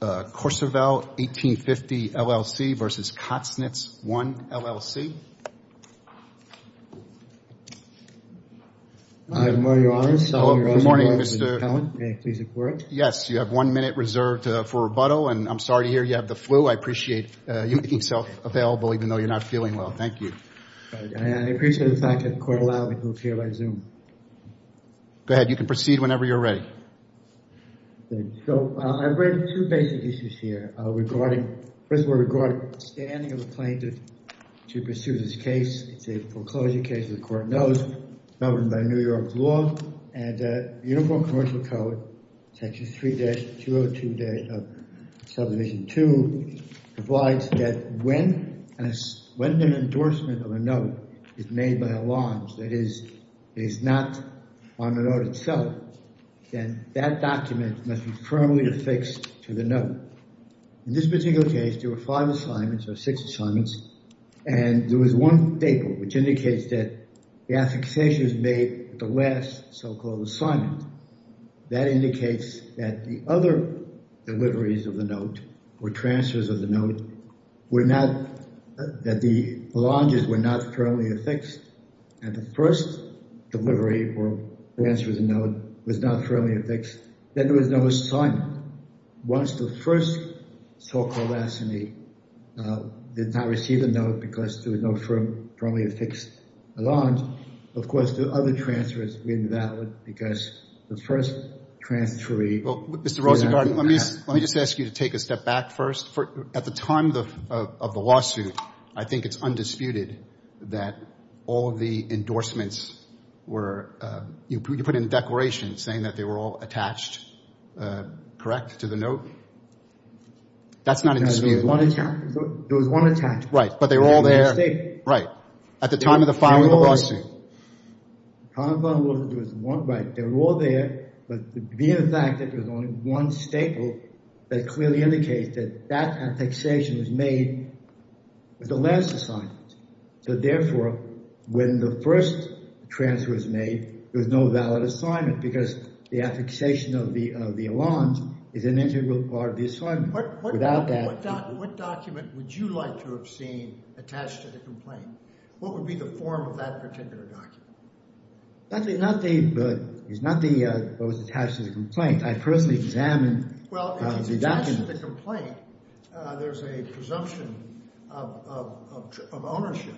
Hello, good morning, Mr. Allen. May I please have a quorum? Yes, you have one minute reserved for rebuttal, and I'm sorry to hear you have the flu. I appreciate you making yourself available, even though you're not feeling well. Thank you. I appreciate the fact that the court will allow me to appear by Zoom. Go ahead. You can proceed whenever you're ready. So, I bring two questions. The first one is, two basic issues here, first of all, regarding the standing of the plaintiff to pursue this case. It's a foreclosure case, as the court knows, governed by New York's law, and the Uniform Commercial Code, section 3-202-subdivision 2, provides that when an endorsement of a note is made by a loan, that is, it is not on the note itself, then that document must be firmly affixed to the note. In this particular case, there were five assignments, or six assignments, and there was one paper which indicates that the affixation is made at the last so-called assignment. That indicates that the other deliveries of the note, or transfers of the note, were not, that the belongings were not firmly affixed, and the first delivery, or transfers of the note, was not firmly affixed. Then there was no assignment. Once the first so-called assignee did not receive the note because there was no firmly affixed allowance, of course, the other transfers were invalid because the first transferee did not have the pass. Well, Mr. Rosengarten, let me just ask you to take a step back first. At the time of the lawsuit, I think it's undisputed that all of the endorsements were, you put in a declaration saying that they were all attached, correct, to the note? That's not undisputed. There was one attached. Right, but they were all there. They were all there. Right. At the time of the filing of the lawsuit. At the time of the filing of the lawsuit, there was one. Right, they were all there, but the mere fact that there was only one staple that clearly indicates that that affixation was made with the last assignment. So therefore, when the first transfer was made, there was no valid assignment because the affixation of the allowance is an integral part of the assignment. What document would you like to have seen attached to the complaint? What would be the form of that particular document? It's not what was attached to the complaint. I personally examined the document. Well, attached to the complaint, there's a presumption of ownership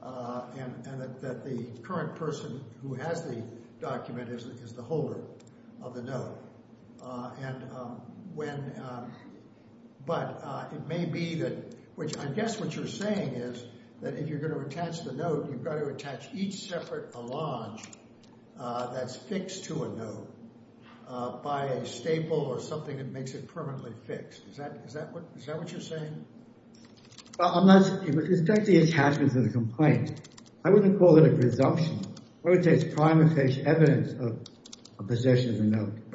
and that the current person who has the document is the holder of the note. But it may be that, which I guess what you're saying is that if you're going to attach the note, you've got to attach each separate allowance that's fixed to a note by a staple or something that makes it permanently fixed. Is that what you're saying? Well, it's not the attachment to the complaint. I wouldn't call it a presumption. I would say it's prima facie evidence of possession of the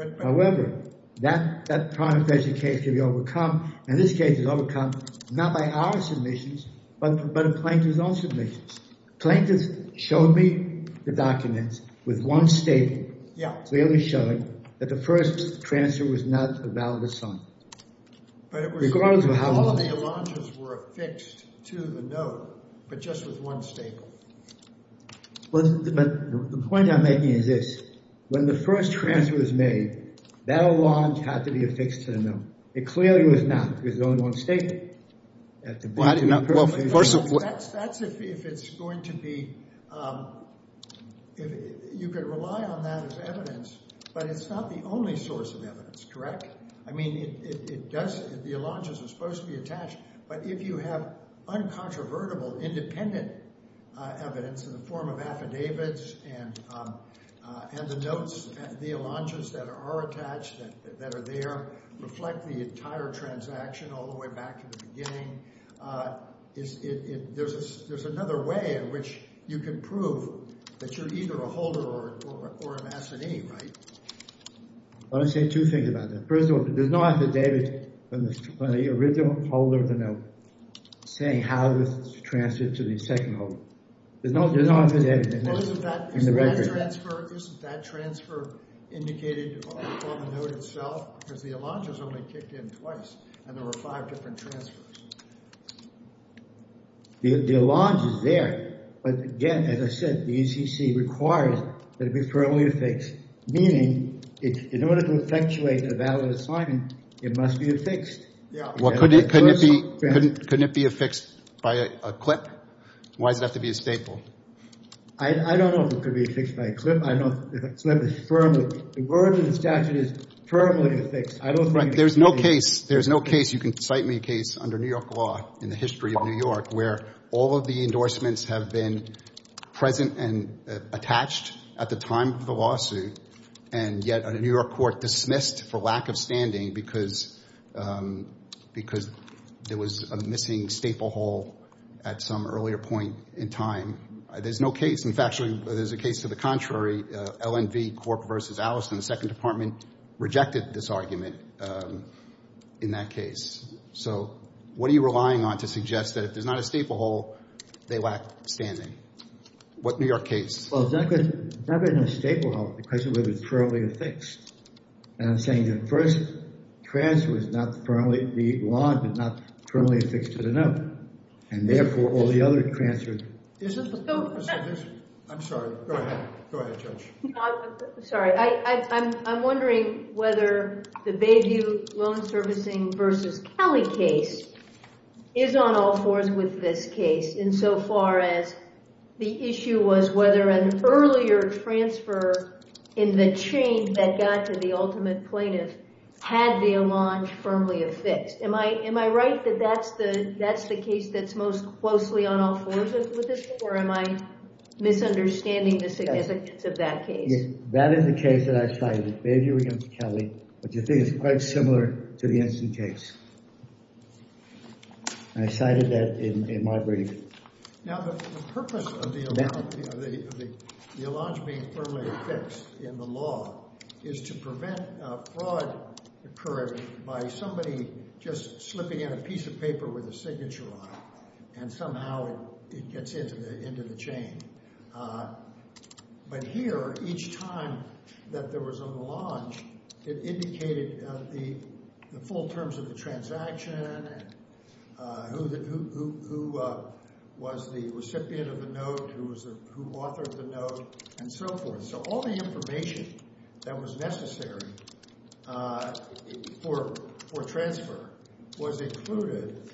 note. However, that prima facie case can be overcome, and this case is overcome not by our submissions, but a plaintiff's own submissions. Plaintiffs showed me the documents with one staple. They only showed that the first transfer was not a valid assignment. But all of the allowances were affixed to the note, but just with one staple. But the point I'm making is this. When the first transfer was made, that allowance had to be affixed to the note. It clearly was not because there was only one staple. That's if it's going to be—you could rely on that as evidence, but it's not the only source of evidence, correct? I mean, the allowances are supposed to be attached, but if you have uncontrovertible, independent evidence in the form of affidavits and the notes, the allowances that are attached, that are there, reflect the entire transaction all the way back to the beginning, there's another way in which you can prove that you're either a holder or an assidee, right? I want to say two things about that. First of all, there's no affidavit from the original holder of the note saying how this is transferred to the second holder. There's no affidavit in the record. Well, isn't that transfer indicated on the note itself? Because the allowances only kicked in twice, and there were five different transfers. The allowance is there, but again, as I said, the ECC requires that it be firmly affixed, meaning in order to effectuate a valid assignment, it must be affixed. Well, couldn't it be affixed by a clip? Why does it have to be a staple? I don't know if it could be affixed by a clip. I don't know if a clip is firmly affixed. The word in the statute is firmly affixed. There's no case, you can cite me a case under New York law in the history of New York where all of the endorsements have been present and attached at the time of the lawsuit, and yet a New York court dismissed for lack of standing because there was a missing staple hole at some earlier point in time. There's no case. In fact, there's a case to the contrary. LNV Corp v. Allison, the second department, rejected this argument in that case. So what are you relying on to suggest that if there's not a staple hole, they lack standing? What New York case? Well, it's not a staple hole. The question is whether it's firmly affixed. I'm saying the first transfer is not firmly, the law is not firmly affixed to the note, and therefore all the other transfers. I'm sorry. Go ahead. Go ahead, Judge. I'm sorry. I'm wondering whether the Bayview Loan Servicing v. Kelly case is on all fours with this case insofar as the issue was whether an earlier transfer in the chain that got to the ultimate plaintiff had their launch firmly affixed. Am I right that that's the case that's most closely on all fours with this or am I misunderstanding the significance of that case? That is the case that I cited, the Bayview v. Kelly, which I think is quite similar to the Ensign case. I cited that in my brief. Now, the purpose of the allonge being firmly affixed in the law is to prevent fraud occurring by somebody just slipping in a piece of paper with a signature on it and somehow it gets into the chain. But here, each time that there was an allonge, it indicated the full terms of the transaction and who was the recipient of the note, who authored the note, and so forth. So all the information that was necessary for transfer was included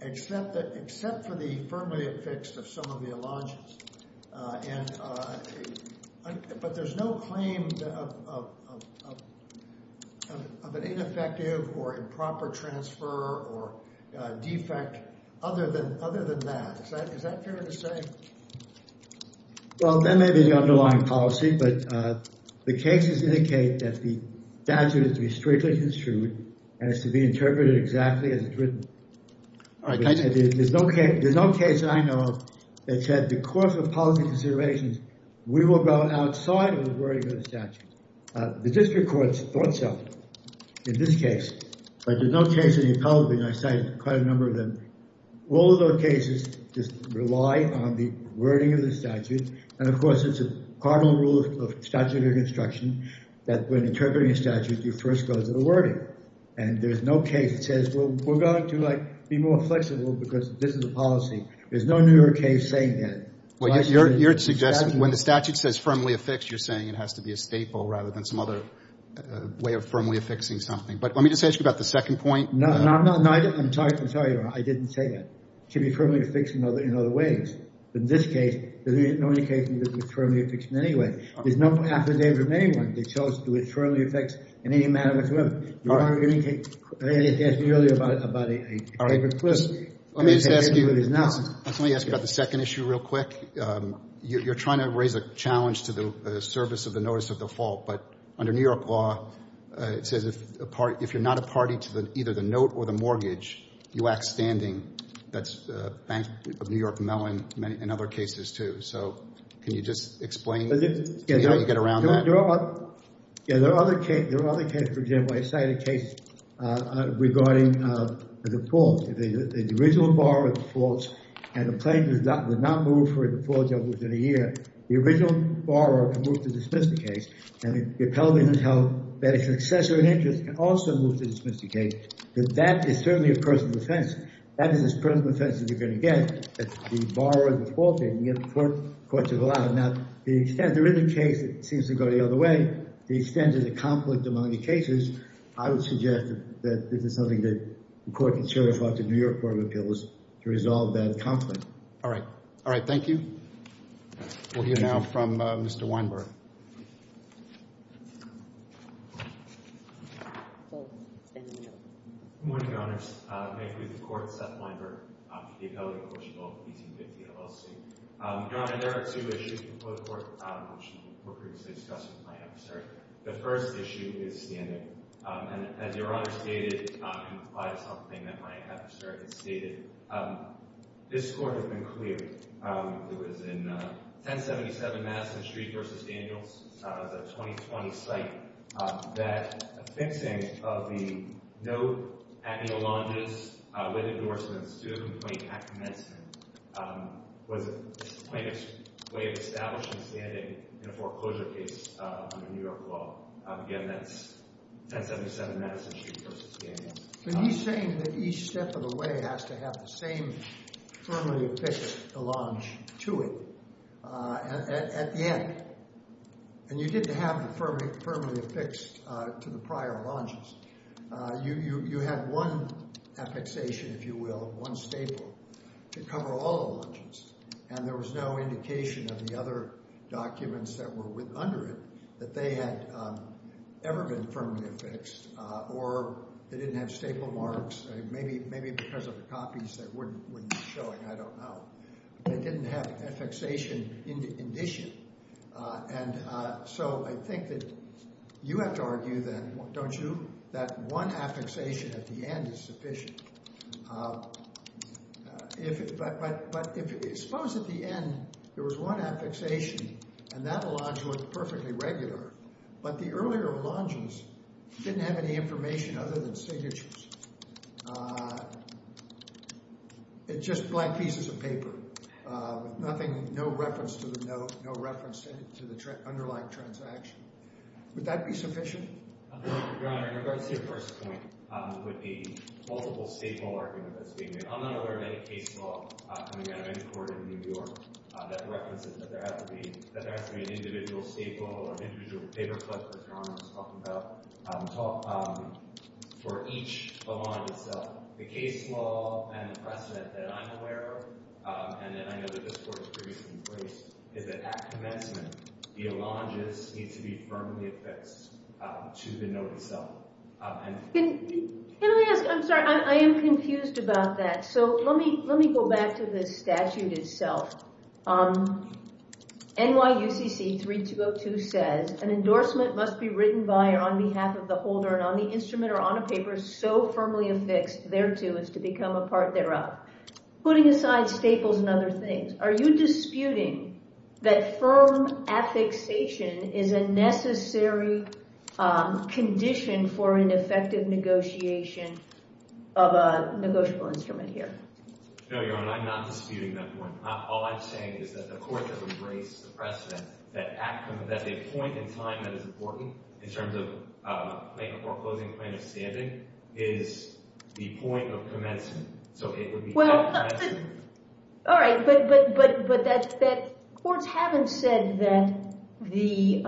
except for the firmly affixed of some of the allonges. But there's no claim of an ineffective or improper transfer or defect other than that. Is that fair to say? Well, that may be the underlying policy, but the cases indicate that the statute is to be strictly construed and it's to be interpreted exactly as it's written. There's no case I know that said the course of policy considerations, we will go outside of the wording of the statute. The district courts thought so in this case, but there's no case in the appellate, and I cited quite a number of them. All of those cases just rely on the wording of the statute, and of course it's a cardinal rule of statutory construction that when interpreting a statute, you first go to the wording. And there's no case that says, well, we're going to, like, be more flexible because this is the policy. There's no New York case saying that. Well, you're suggesting when the statute says firmly affixed, you're saying it has to be a staple rather than some other way of firmly affixing something. But let me just ask you about the second point. No, no, no. I'm sorry. I'm sorry. I didn't say that. It can be firmly affixed in other ways. In this case, there's no indication that it was firmly affixed in any way. There's no affidavit of anyone that shows that it was firmly affixed in any manner whatsoever. All right. Let me just ask you about the second issue real quick. You're trying to raise a challenge to the service of the notice of default, but under New York law, it says if you're not a party to either the note or the mortgage, you act standing. That's Bank of New York, Mellon, and other cases, too. So can you just explain how you get around that? There are other cases. For example, I cited a case regarding the default. If the original borrower defaults and the plaintiff does not move for a default within a year, the original borrower can move to dismiss the case. And the appellate has held that a successor in interest can also move to dismiss the case. But that is certainly a personal offense. That is a personal offense that you're going to get if the borrower defaulted and the other courts have allowed it. Now, the extent there is a case that seems to go the other way, the extent of the conflict among the cases, I would suggest that this is something that the court can show in front of the New York Court of Appeals to resolve that conflict. All right. All right. Thank you. We'll hear now from Mr. Weinberg. Good morning, Your Honors. May it please the Court, Seth Weinberg, the appellate in quotiable 1850 LLC. Your Honor, there are two issues before the Court, which were previously discussed with my adversary. The first issue is standing. And as Your Honor stated, and applied to something that my adversary had stated, this Court has been clear. It was in 1077 Madison Street v. Daniels. It's a 2020 site. That a fixing of the no acne allonges with endorsements to a complaint at commencement was a plaintiff's way of establishing standing in a foreclosure case under New York law. Again, that's 1077 Madison Street v. Daniels. But he's saying that each step of the way has to have the same firmly official allonge to it at the end. And you didn't have it firmly affixed to the prior allonges. You had one affixation, if you will, one staple to cover all the allonges. And there was no indication of the other documents that were under it that they had ever been firmly affixed, or they didn't have staple marks, maybe because of the copies that weren't showing, I don't know. They didn't have affixation in addition. And so I think that you have to argue then, don't you, that one affixation at the end is sufficient. But suppose at the end there was one affixation, and that allonge was perfectly regular, but the earlier allonges didn't have any information other than signatures. It's just black pieces of paper with nothing, no reference to the note, no reference to the underlying transaction. Would that be sufficient? Your Honor, in regards to your first point, with the multiple staple argument that's being made, I'm not aware of any case law coming out of any court in New York that references that there has to be an individual staple or an individual paperclip, as Your Honor was talking about, for each allonge itself. The case law and precedent that I'm aware of, and that I know that this Court has previously embraced, is that at commencement, the allonges need to be firmly affixed to the note itself. Can I ask, I'm sorry, I am confused about that. So let me go back to the statute itself. NYUCC 3202 says, an endorsement must be written by or on behalf of the holder and on the instrument or on a paper so firmly affixed thereto as to become a part thereof. Putting aside staples and other things, are you disputing that firm affixation is a necessary condition for an effective negotiation of a negotiable instrument here? No, Your Honor, I'm not disputing that point. All I'm saying is that the Court has embraced the precedent that a point in time that is important in terms of making a foreclosing plan of standing is the point of commencement. So it would be at commencement. All right, but courts haven't said that the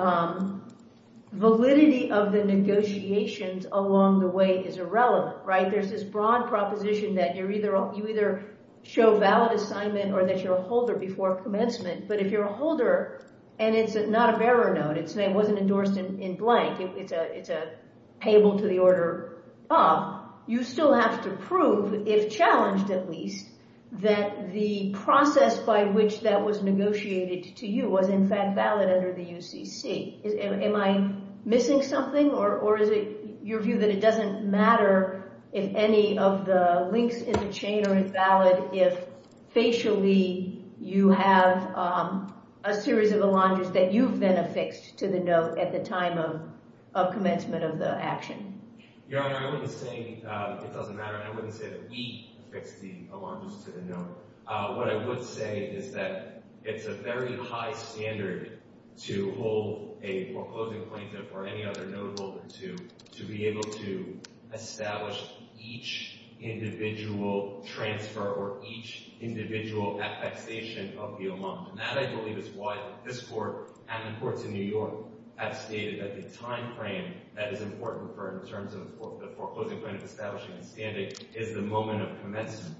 validity of the negotiations along the way is irrelevant, right? There's this broad proposition that you either show valid assignment or that you're a holder before commencement. But if you're a holder and it's not a bearer note, it wasn't endorsed in blank, it's a payable to the order of, you still have to prove, if challenged at least, that the process by which that was negotiated to you was in fact valid under the UCC. Am I missing something or is it your view that it doesn't matter if any of the links in the chain are valid if facially you have a series of alongers that you've been affixed to the note at the time of commencement of the action? Your Honor, I wouldn't say it doesn't matter. I wouldn't say that we affixed the alongers to the note. What I would say is that it's a very high standard to hold a foreclosing plaintiff or any other note holder to be able to establish each individual transfer or each individual affixation of the amount. And that, I believe, is why this Court and the courts in New York have stated that the time frame that is important in terms of the foreclosing plaintiff establishing a standing is the moment of commencement.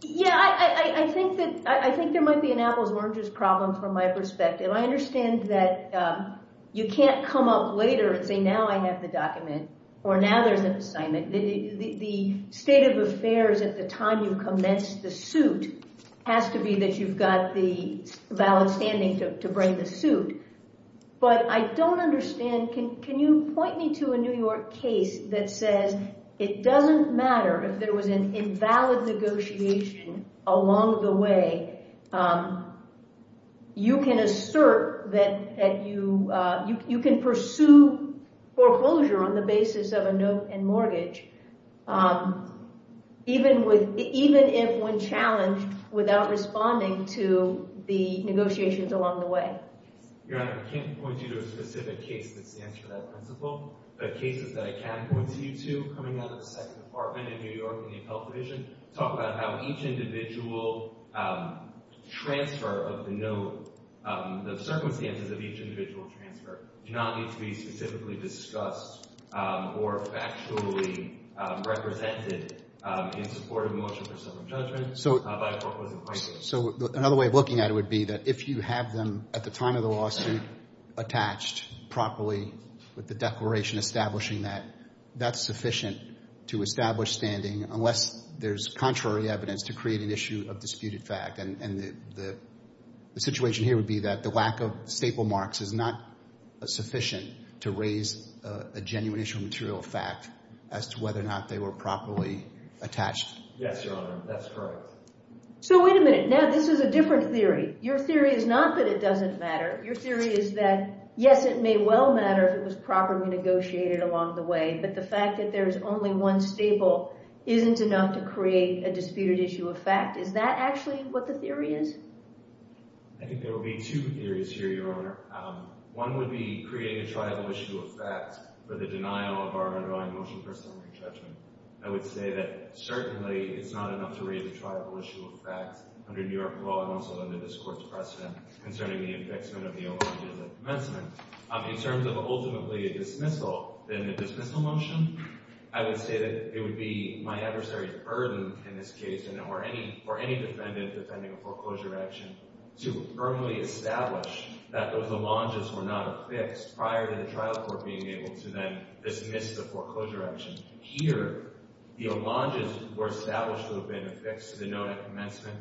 Yeah, I think there might be an apples and oranges problem from my perspective. I understand that you can't come up later and say, now I have the document, or now there's an assignment. The state of affairs at the time you commence the suit has to be that you've got the valid standing to bring the suit. But I don't understand. Can you point me to a New York case that says it doesn't matter if there was an invalid negotiation along the way? You can assert that you can pursue foreclosure on the basis of a note and mortgage, even if when challenged, without responding to the negotiations along the way. Your Honor, I can't point you to a specific case that stands for that principle. The cases that I can point you to, coming out of the Second Department in New York in the Appellate Division, talk about how each individual transfer of the note, the circumstances of each individual transfer, do not need to be specifically discussed or factually represented in support of a motion for civil judgment by a foreclosure plaintiff. So another way of looking at it would be that if you have them, at the time of the lawsuit, attached properly with the declaration establishing that, that's sufficient to establish standing, unless there's contrary evidence to create an issue of disputed fact. And the situation here would be that the lack of staple marks is not sufficient to raise a genuine issue of material fact as to whether or not they were properly attached. Yes, Your Honor. That's correct. So wait a minute. Now, this is a different theory. Your theory is not that it doesn't matter. Your theory is that, yes, it may well matter if it was properly negotiated along the way. But the fact that there is only one staple isn't enough to create a disputed issue of fact. Is that actually what the theory is? I think there will be two theories here, Your Honor. One would be create a triable issue of fact for the denial of our underlying motion for summary judgment. I would say that, certainly, it's not enough to raise a triable issue of fact under New York law and also under this Court's precedent concerning the affixment of the homages at commencement. In terms of, ultimately, a dismissal, then the dismissal motion, I would say that it would be my adversary's burden, in this case, or any defendant defending a foreclosure action, to firmly establish that those homages were not affixed prior to the trial court being able to then dismiss the foreclosure action. Here, the homages were established to have been affixed to denote a commencement.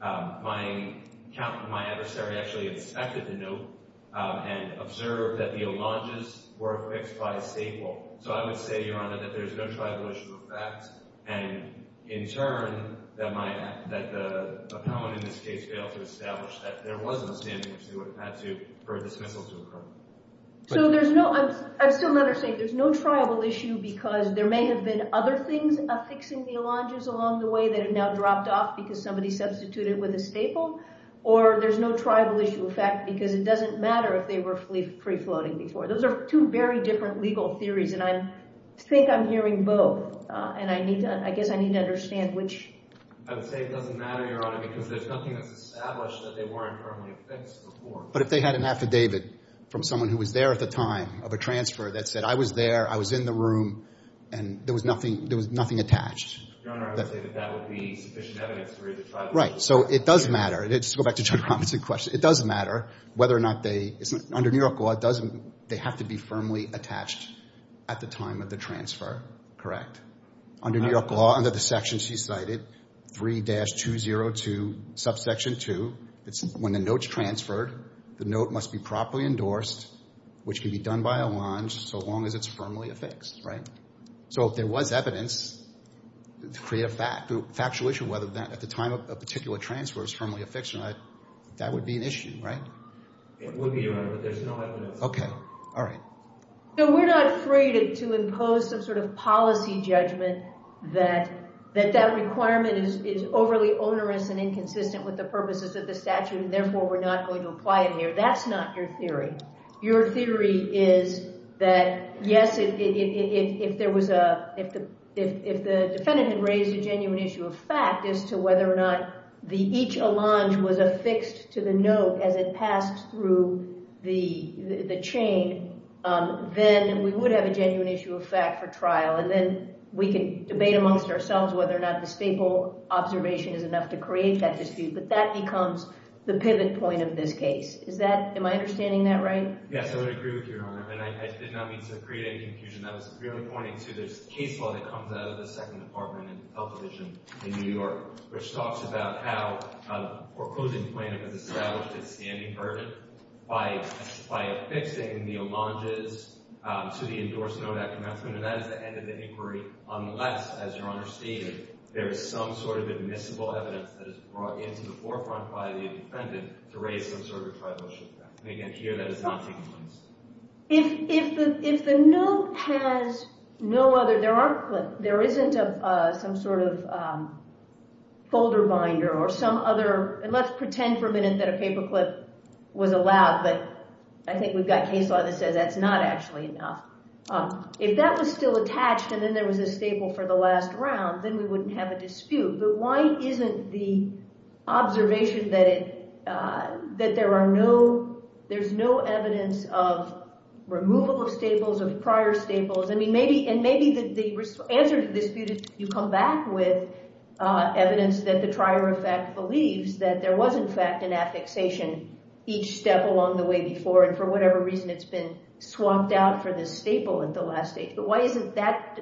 My adversary actually inspected the note and observed that the homages were affixed by a staple. So I would say, Your Honor, that there's no triable issue of fact. And, in turn, that the appellant, in this case, failed to establish that there was a standing issue for a dismissal to occur. I still don't understand. There's no triable issue because there may have been other things affixing the homages along the way that have now dropped off because somebody substituted with a staple. Or there's no triable issue of fact because it doesn't matter if they were free-floating before. Those are two very different legal theories. And I think I'm hearing both. And I guess I need to understand which. I would say it doesn't matter, Your Honor, because there's nothing that's established that they weren't firmly affixed before. But if they had an affidavit from someone who was there at the time of a transfer that said, I was there, I was in the room, and there was nothing attached. Your Honor, I would say that that would be sufficient evidence to raise a triable issue. Right. So it does matter. Let's go back to Judge Robinson's question. It does matter whether or not they, under New York law, they have to be firmly attached at the time of the transfer. Correct? Under New York law, under the section she cited, 3-202, subsection 2, when the note's transferred, the note must be properly endorsed, which can be done by a longe, so long as it's firmly affixed. Right? So if there was evidence to create a factual issue, whether or not at the time of a particular transfer it was firmly affixed or not, that would be an issue, right? It would be, Your Honor, but there's no evidence. Okay. All right. So we're not afraid to impose some sort of policy judgment that that requirement is overly onerous and inconsistent with the purposes of the statute, and therefore we're not going to apply it here. That's not your theory. Your theory is that, yes, if the defendant had raised a genuine issue of fact as to whether or not each allonge was affixed to the note as it passed through the chain, then we would have a genuine issue of fact for trial, and then we can debate amongst ourselves whether or not the staple observation is enough to create that dispute, but that becomes the pivot point of this case. Is that... Am I understanding that right? Yes, I would agree with you, Your Honor, and I did not mean to create any confusion. I was really pointing to this case law that comes out of the Second Department in the Health Division in New York, which talks about how a foreclosing plaintiff has established a standing verdict by affixing the allonges to the endorsed note at commencement, and that is the end of the inquiry unless, as Your Honor stated, there is some sort of admissible evidence that is brought into the forefront by the defendant to raise some sort of a tribal issue. Again, here, that is not taking place. If the note has no other... There aren't... There isn't some sort of folder binder or some other... Let's pretend for a minute that a paperclip was allowed, but I think we've got case law that says that's not actually enough. If that was still attached and then there was a staple for the last round, then we wouldn't have a dispute, but why isn't the observation that there's no evidence of removal of staples, of prior staples? I mean, maybe the answer to this dispute is you come back with evidence that the trier of fact believes that there was, in fact, an affixation each step along the way before, and for whatever reason, it's been swapped out for this staple at the last stage, but why doesn't that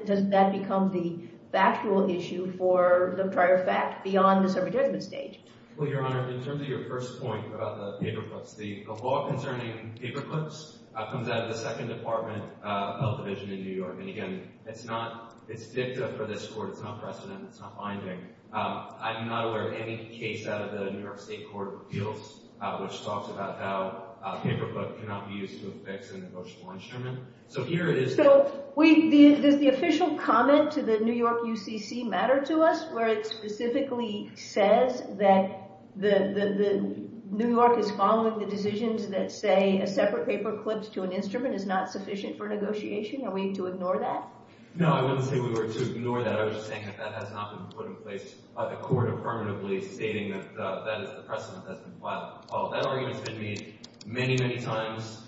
become the factual issue for the trier of fact beyond this advertisement stage? Well, Your Honor, in terms of your first point about the paperclips, the law concerning paperclips comes out of the Second Department Health Division in New York, and again, it's not... It's dicta for this court. It's not precedent. It's not binding. I'm not aware of any case out of the New York State Court of Appeals which talks about how a paperclip cannot be used to affix an emotional instrument. So here it is... So does the official comment to the New York UCC matter to us where it specifically says that New York is following the decisions that say a separate paperclip to an instrument is not sufficient for negotiation? Are we to ignore that? No, I wouldn't say we were to ignore that. I was just saying that that has not been put in place by the court affirmatively, stating that that is the precedent that's been filed. That argument's been made many, many times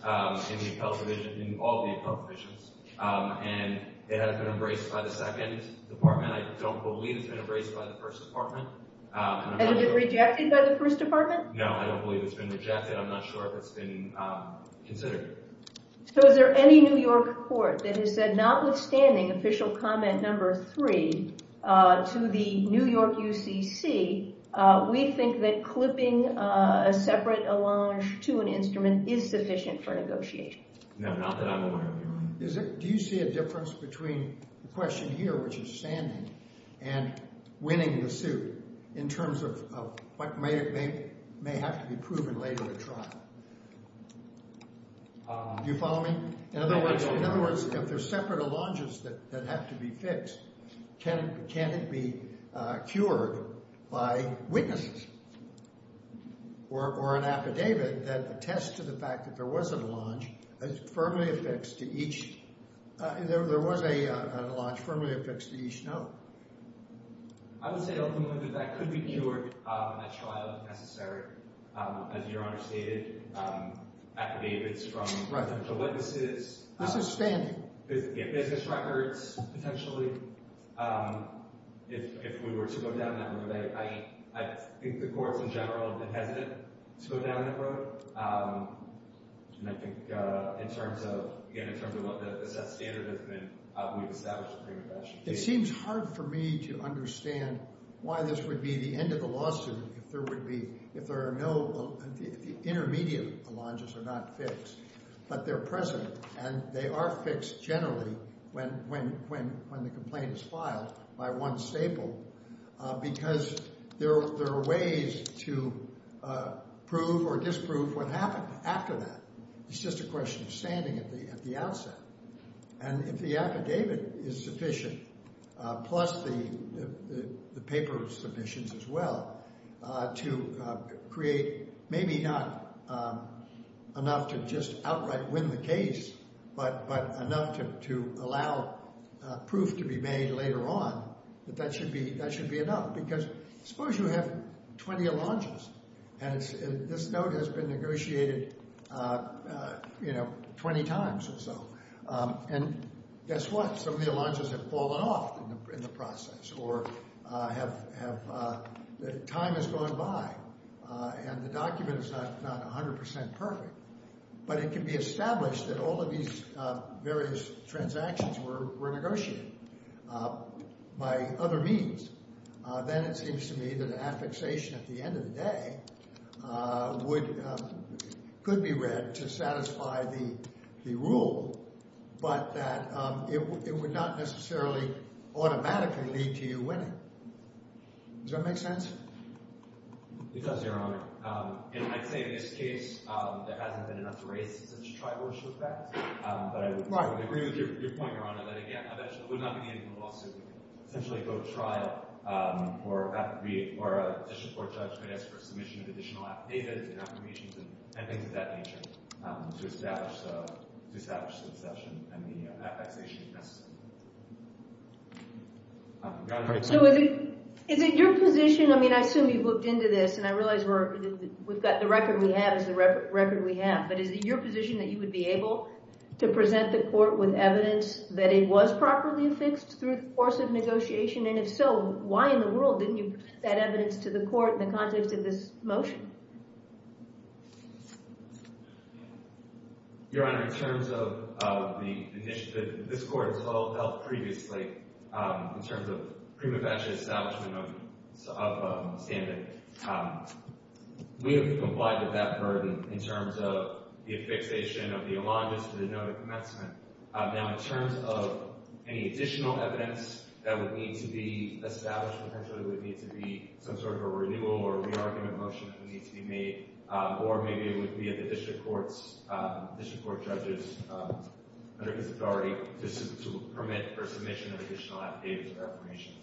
in the appellate division, in all the appellate divisions, and it hasn't been embraced by the Second Department. I don't believe it's been embraced by the First Department. Has it been rejected by the First Department? No, I don't believe it's been rejected. I'm not sure if it's been considered. So is there any New York court that has said notwithstanding official comment number three to the New York UCC, we think that clipping a separate allonge to an instrument is sufficient for negotiation? No, not that I'm aware of. Do you see a difference between the question here, which is standing, and winning the suit in terms of what may have to be proven later in the trial? Do you follow me? In other words, if there's separate allonges that have to be fixed, can it be cured by witnesses or an affidavit that attests to the fact that there was an allonge firmly affixed to each? There was an allonge firmly affixed to each, no? I would say, ultimately, that that could be cured at trial if necessary. As Your Honor stated, affidavits from potential witnesses. This is standing. Yeah, business records, potentially. If we were to go down that road, I think the courts in general have been hesitant to go down that road. And I think, in terms of, again, in terms of what the set standard has been, we've established a frame of action. It seems hard for me to understand why this would be the end of the lawsuit if there are no, if the intermediate allonges are not fixed, but they're present, and they are fixed generally when the complaint is filed by one staple, because there are ways to prove or disprove what happened after that. It's just a question of standing at the outset. And if the affidavit is sufficient, plus the paper submissions as well, to create maybe not enough to just outright win the case, but enough to allow proof to be made later on, that that should be enough. Because suppose you have 20 allonges, and this note has been negotiated 20 times or so. And guess what? Some of the allonges have fallen off in the process, or time has gone by, and the document is not 100% perfect. But it can be established that all of these various transactions were negotiated by other means. Then it seems to me that an affixation at the end of the day could be read to satisfy the rule, but that it would not necessarily automatically lead to you winning. Does that make sense? It does, Your Honor. And I'd say in this case, there hasn't been enough race in such a tribal respect. But I would agree with your point, Your Honor, that again, it would not be in the lawsuit because we could essentially go to trial or a district court judge might ask for a submission of additional affidavits and affirmations and things of that nature to establish the exception and the affixation if necessary. So is it your position, I mean, I assume you've looked into this, and I realize the record we have is the record we have, but is it your position that you would be able to present the court with evidence that it was properly affixed through the course of negotiation? And if so, why in the world didn't you present that evidence to the court in the context of this motion? Your Honor, in terms of the initiative, this court has all dealt previously in terms of prima facie establishment of a standard. We have complied with that burden in terms of the affixation of the elongus to the no commencement. Now in terms of any additional evidence that would need to be established, potentially it would need to be some sort of a renewal or re-argument motion that would need to be made, or maybe it would be at the district court judges under his authority to permit for submission of additional affidavits or affirmations.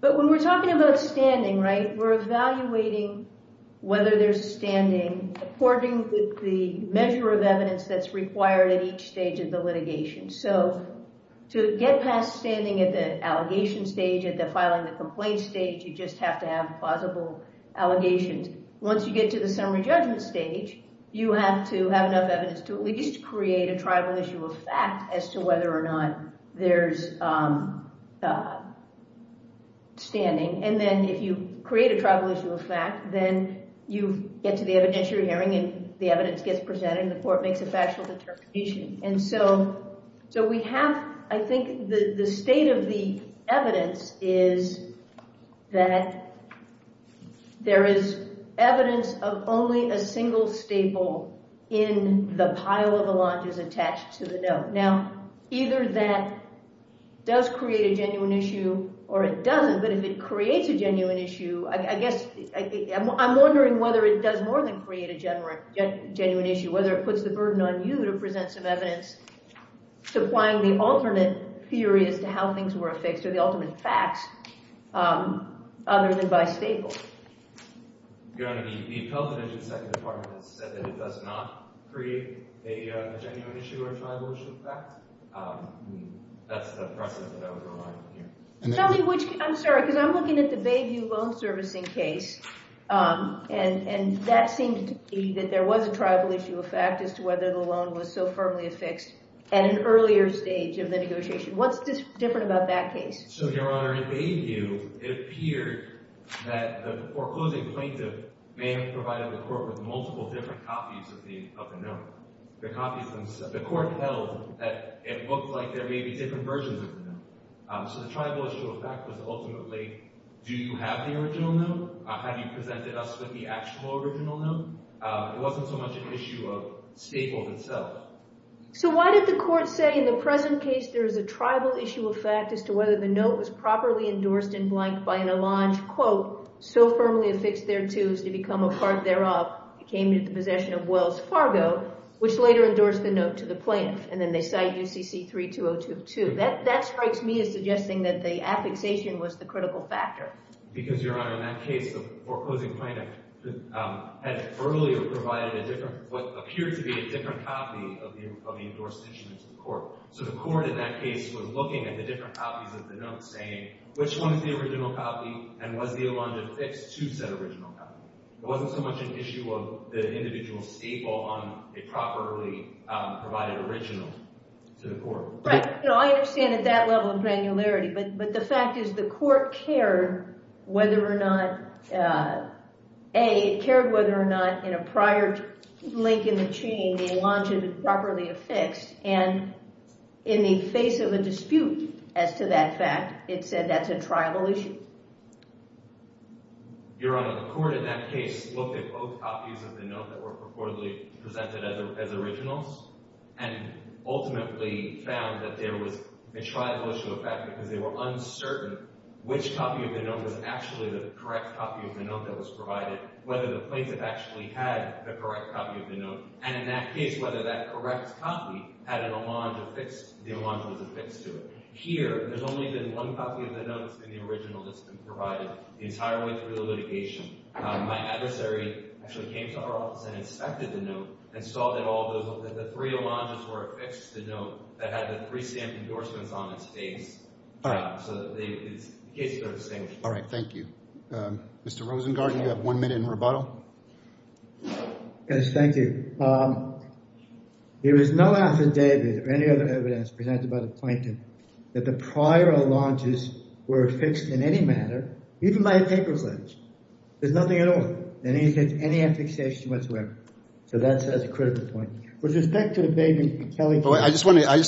But when we're talking about standing, we're evaluating whether there's standing according to the measure of evidence that's required at each stage of the litigation. So to get past standing at the allegation stage, at the filing the complaint stage, you just have to have plausible allegations. Once you get to the summary judgment stage, you have to have enough evidence to at least create a tribal issue of fact as to whether or not there's standing. And then if you create a tribal issue of fact, then you get to the evidence you're hearing and the evidence gets presented and the court makes a factual determination. And so we have, I think, the state of the evidence is that there is evidence of only a single staple in the pile of alloges attached to the note. Now, either that does create a genuine issue, or it doesn't, but if it creates a genuine issue, I guess I'm wondering whether it does more than create a genuine issue, whether it puts the burden on you to present some evidence supplying the alternate theory as to how things were affixed or the ultimate facts other than by staples. Your Honor, the Appellate Inspector Department has said that it does not create a genuine issue or a tribal issue of fact. That's the precedent that I would rely on here. Tell me which, I'm sorry, because I'm looking at the Bayview Loan Servicing case and that seems to me that there was a tribal issue of fact as to whether the loan was so firmly affixed at an earlier stage of the negotiation. What's different about that case? So, Your Honor, in Bayview, it appeared that the foreclosing plaintiff may have provided the court with multiple different copies of the note, the copies themselves. The court held that it looked like there may be different versions of the note. So the tribal issue of fact was ultimately, do you have the original note? Have you presented us with the actual original note? It wasn't so much an issue of staples itself. So why did the court say in the present case there is a tribal issue of fact as to whether the note was properly endorsed in blank by an Allonge quote, so firmly affixed thereto as to become a part thereof, it came into possession of Wells Fargo, which later endorsed the note to the plaintiff. And then they cite UCC 32022. That strikes me as suggesting that the affixation was the critical factor. Because, Your Honor, in that case, the foreclosing plaintiff had earlier provided a different, what appeared to be a different copy of the endorsed issue to the court. So the court in that case was looking at the different copies of the note, saying, which one is the original copy? And was the Allonge affixed to said original copy? It wasn't so much an issue of the individual staple on a properly provided original to the court. Right. No, I understand at that level of granularity. But the fact is the court cared whether or not, A, it cared whether or not in a prior link in the chain, the Allonge had been properly affixed. And in the face of a dispute as to that fact, it said that's a tribal issue. Your Honor, the court in that case looked at both copies of the note that were reportedly presented as originals and ultimately found that there was a tribal issue of fact because they were uncertain which copy of the note was actually the correct copy of the note that was provided, whether the plaintiff actually had the correct copy of the note. And in that case, whether that correct copy had an Allonge affixed, the Allonge was affixed to it. Here, there's only been one copy of the note that's been the original that's been provided the entire way through the litigation. My adversary actually came to our office and inspected the note and saw that all those, that the three Allonges were affixed to the note that had the three stamped endorsements on its face. All right. So the case goes the same. All right. Thank you. Mr. Rosengarten, you have one minute in rebuttal. Yes. Thank you. There is no affidavit or any other evidence presented by the plaintiff that the prior Allonges were affixed in any manner, even by a paper fledge. There's nothing at all. They didn't have any affixation whatsoever. So that's a critical point. With respect to the Baby and Kelly case, I just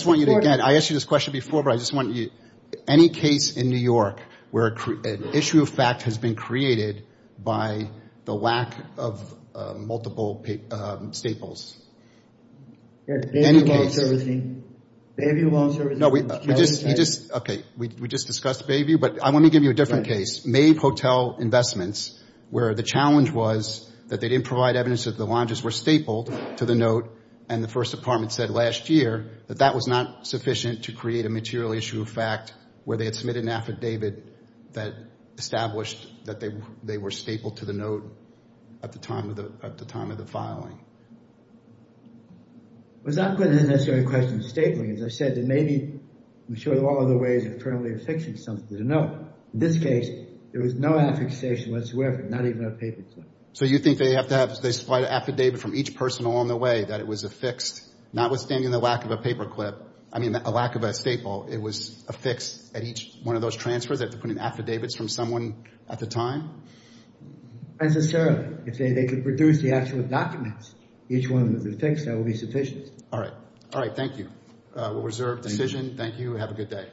want you to get, I asked you this question before, but I just want you, any case in New York where an Allonge where an issue of fact has been created by the lack of multiple staples. In any case. Bayview loan servicing was charged as such. No, we just, okay, we just discussed Bayview, but I want to give you a different case. Mabe Hotel Investments, where the challenge was that they didn't provide evidence that the Allonges were stapled to the note and the First Department said last year that that was not sufficient to create a material issue of fact where they had submitted an affidavit that the Allonges that established that they were stapled to the note at the time of the filing. It's not necessarily a question of stapling. As I said, it may be, I'm sure there are other ways of permanently affixing something to the note. In this case, there was no affixation whatsoever, not even a paper clip. So you think they have to have, they supply an affidavit from each person along the way that it was affixed, notwithstanding the lack of a paper clip, I mean, a lack of a staple, it was affixed at each one of those transfers. They have to put in affidavits from someone at the time? Necessarily. If they could produce the actual documents, each one that was affixed, that would be sufficient. All right. All right, thank you. We'll reserve the decision. Thank you. Have a good day.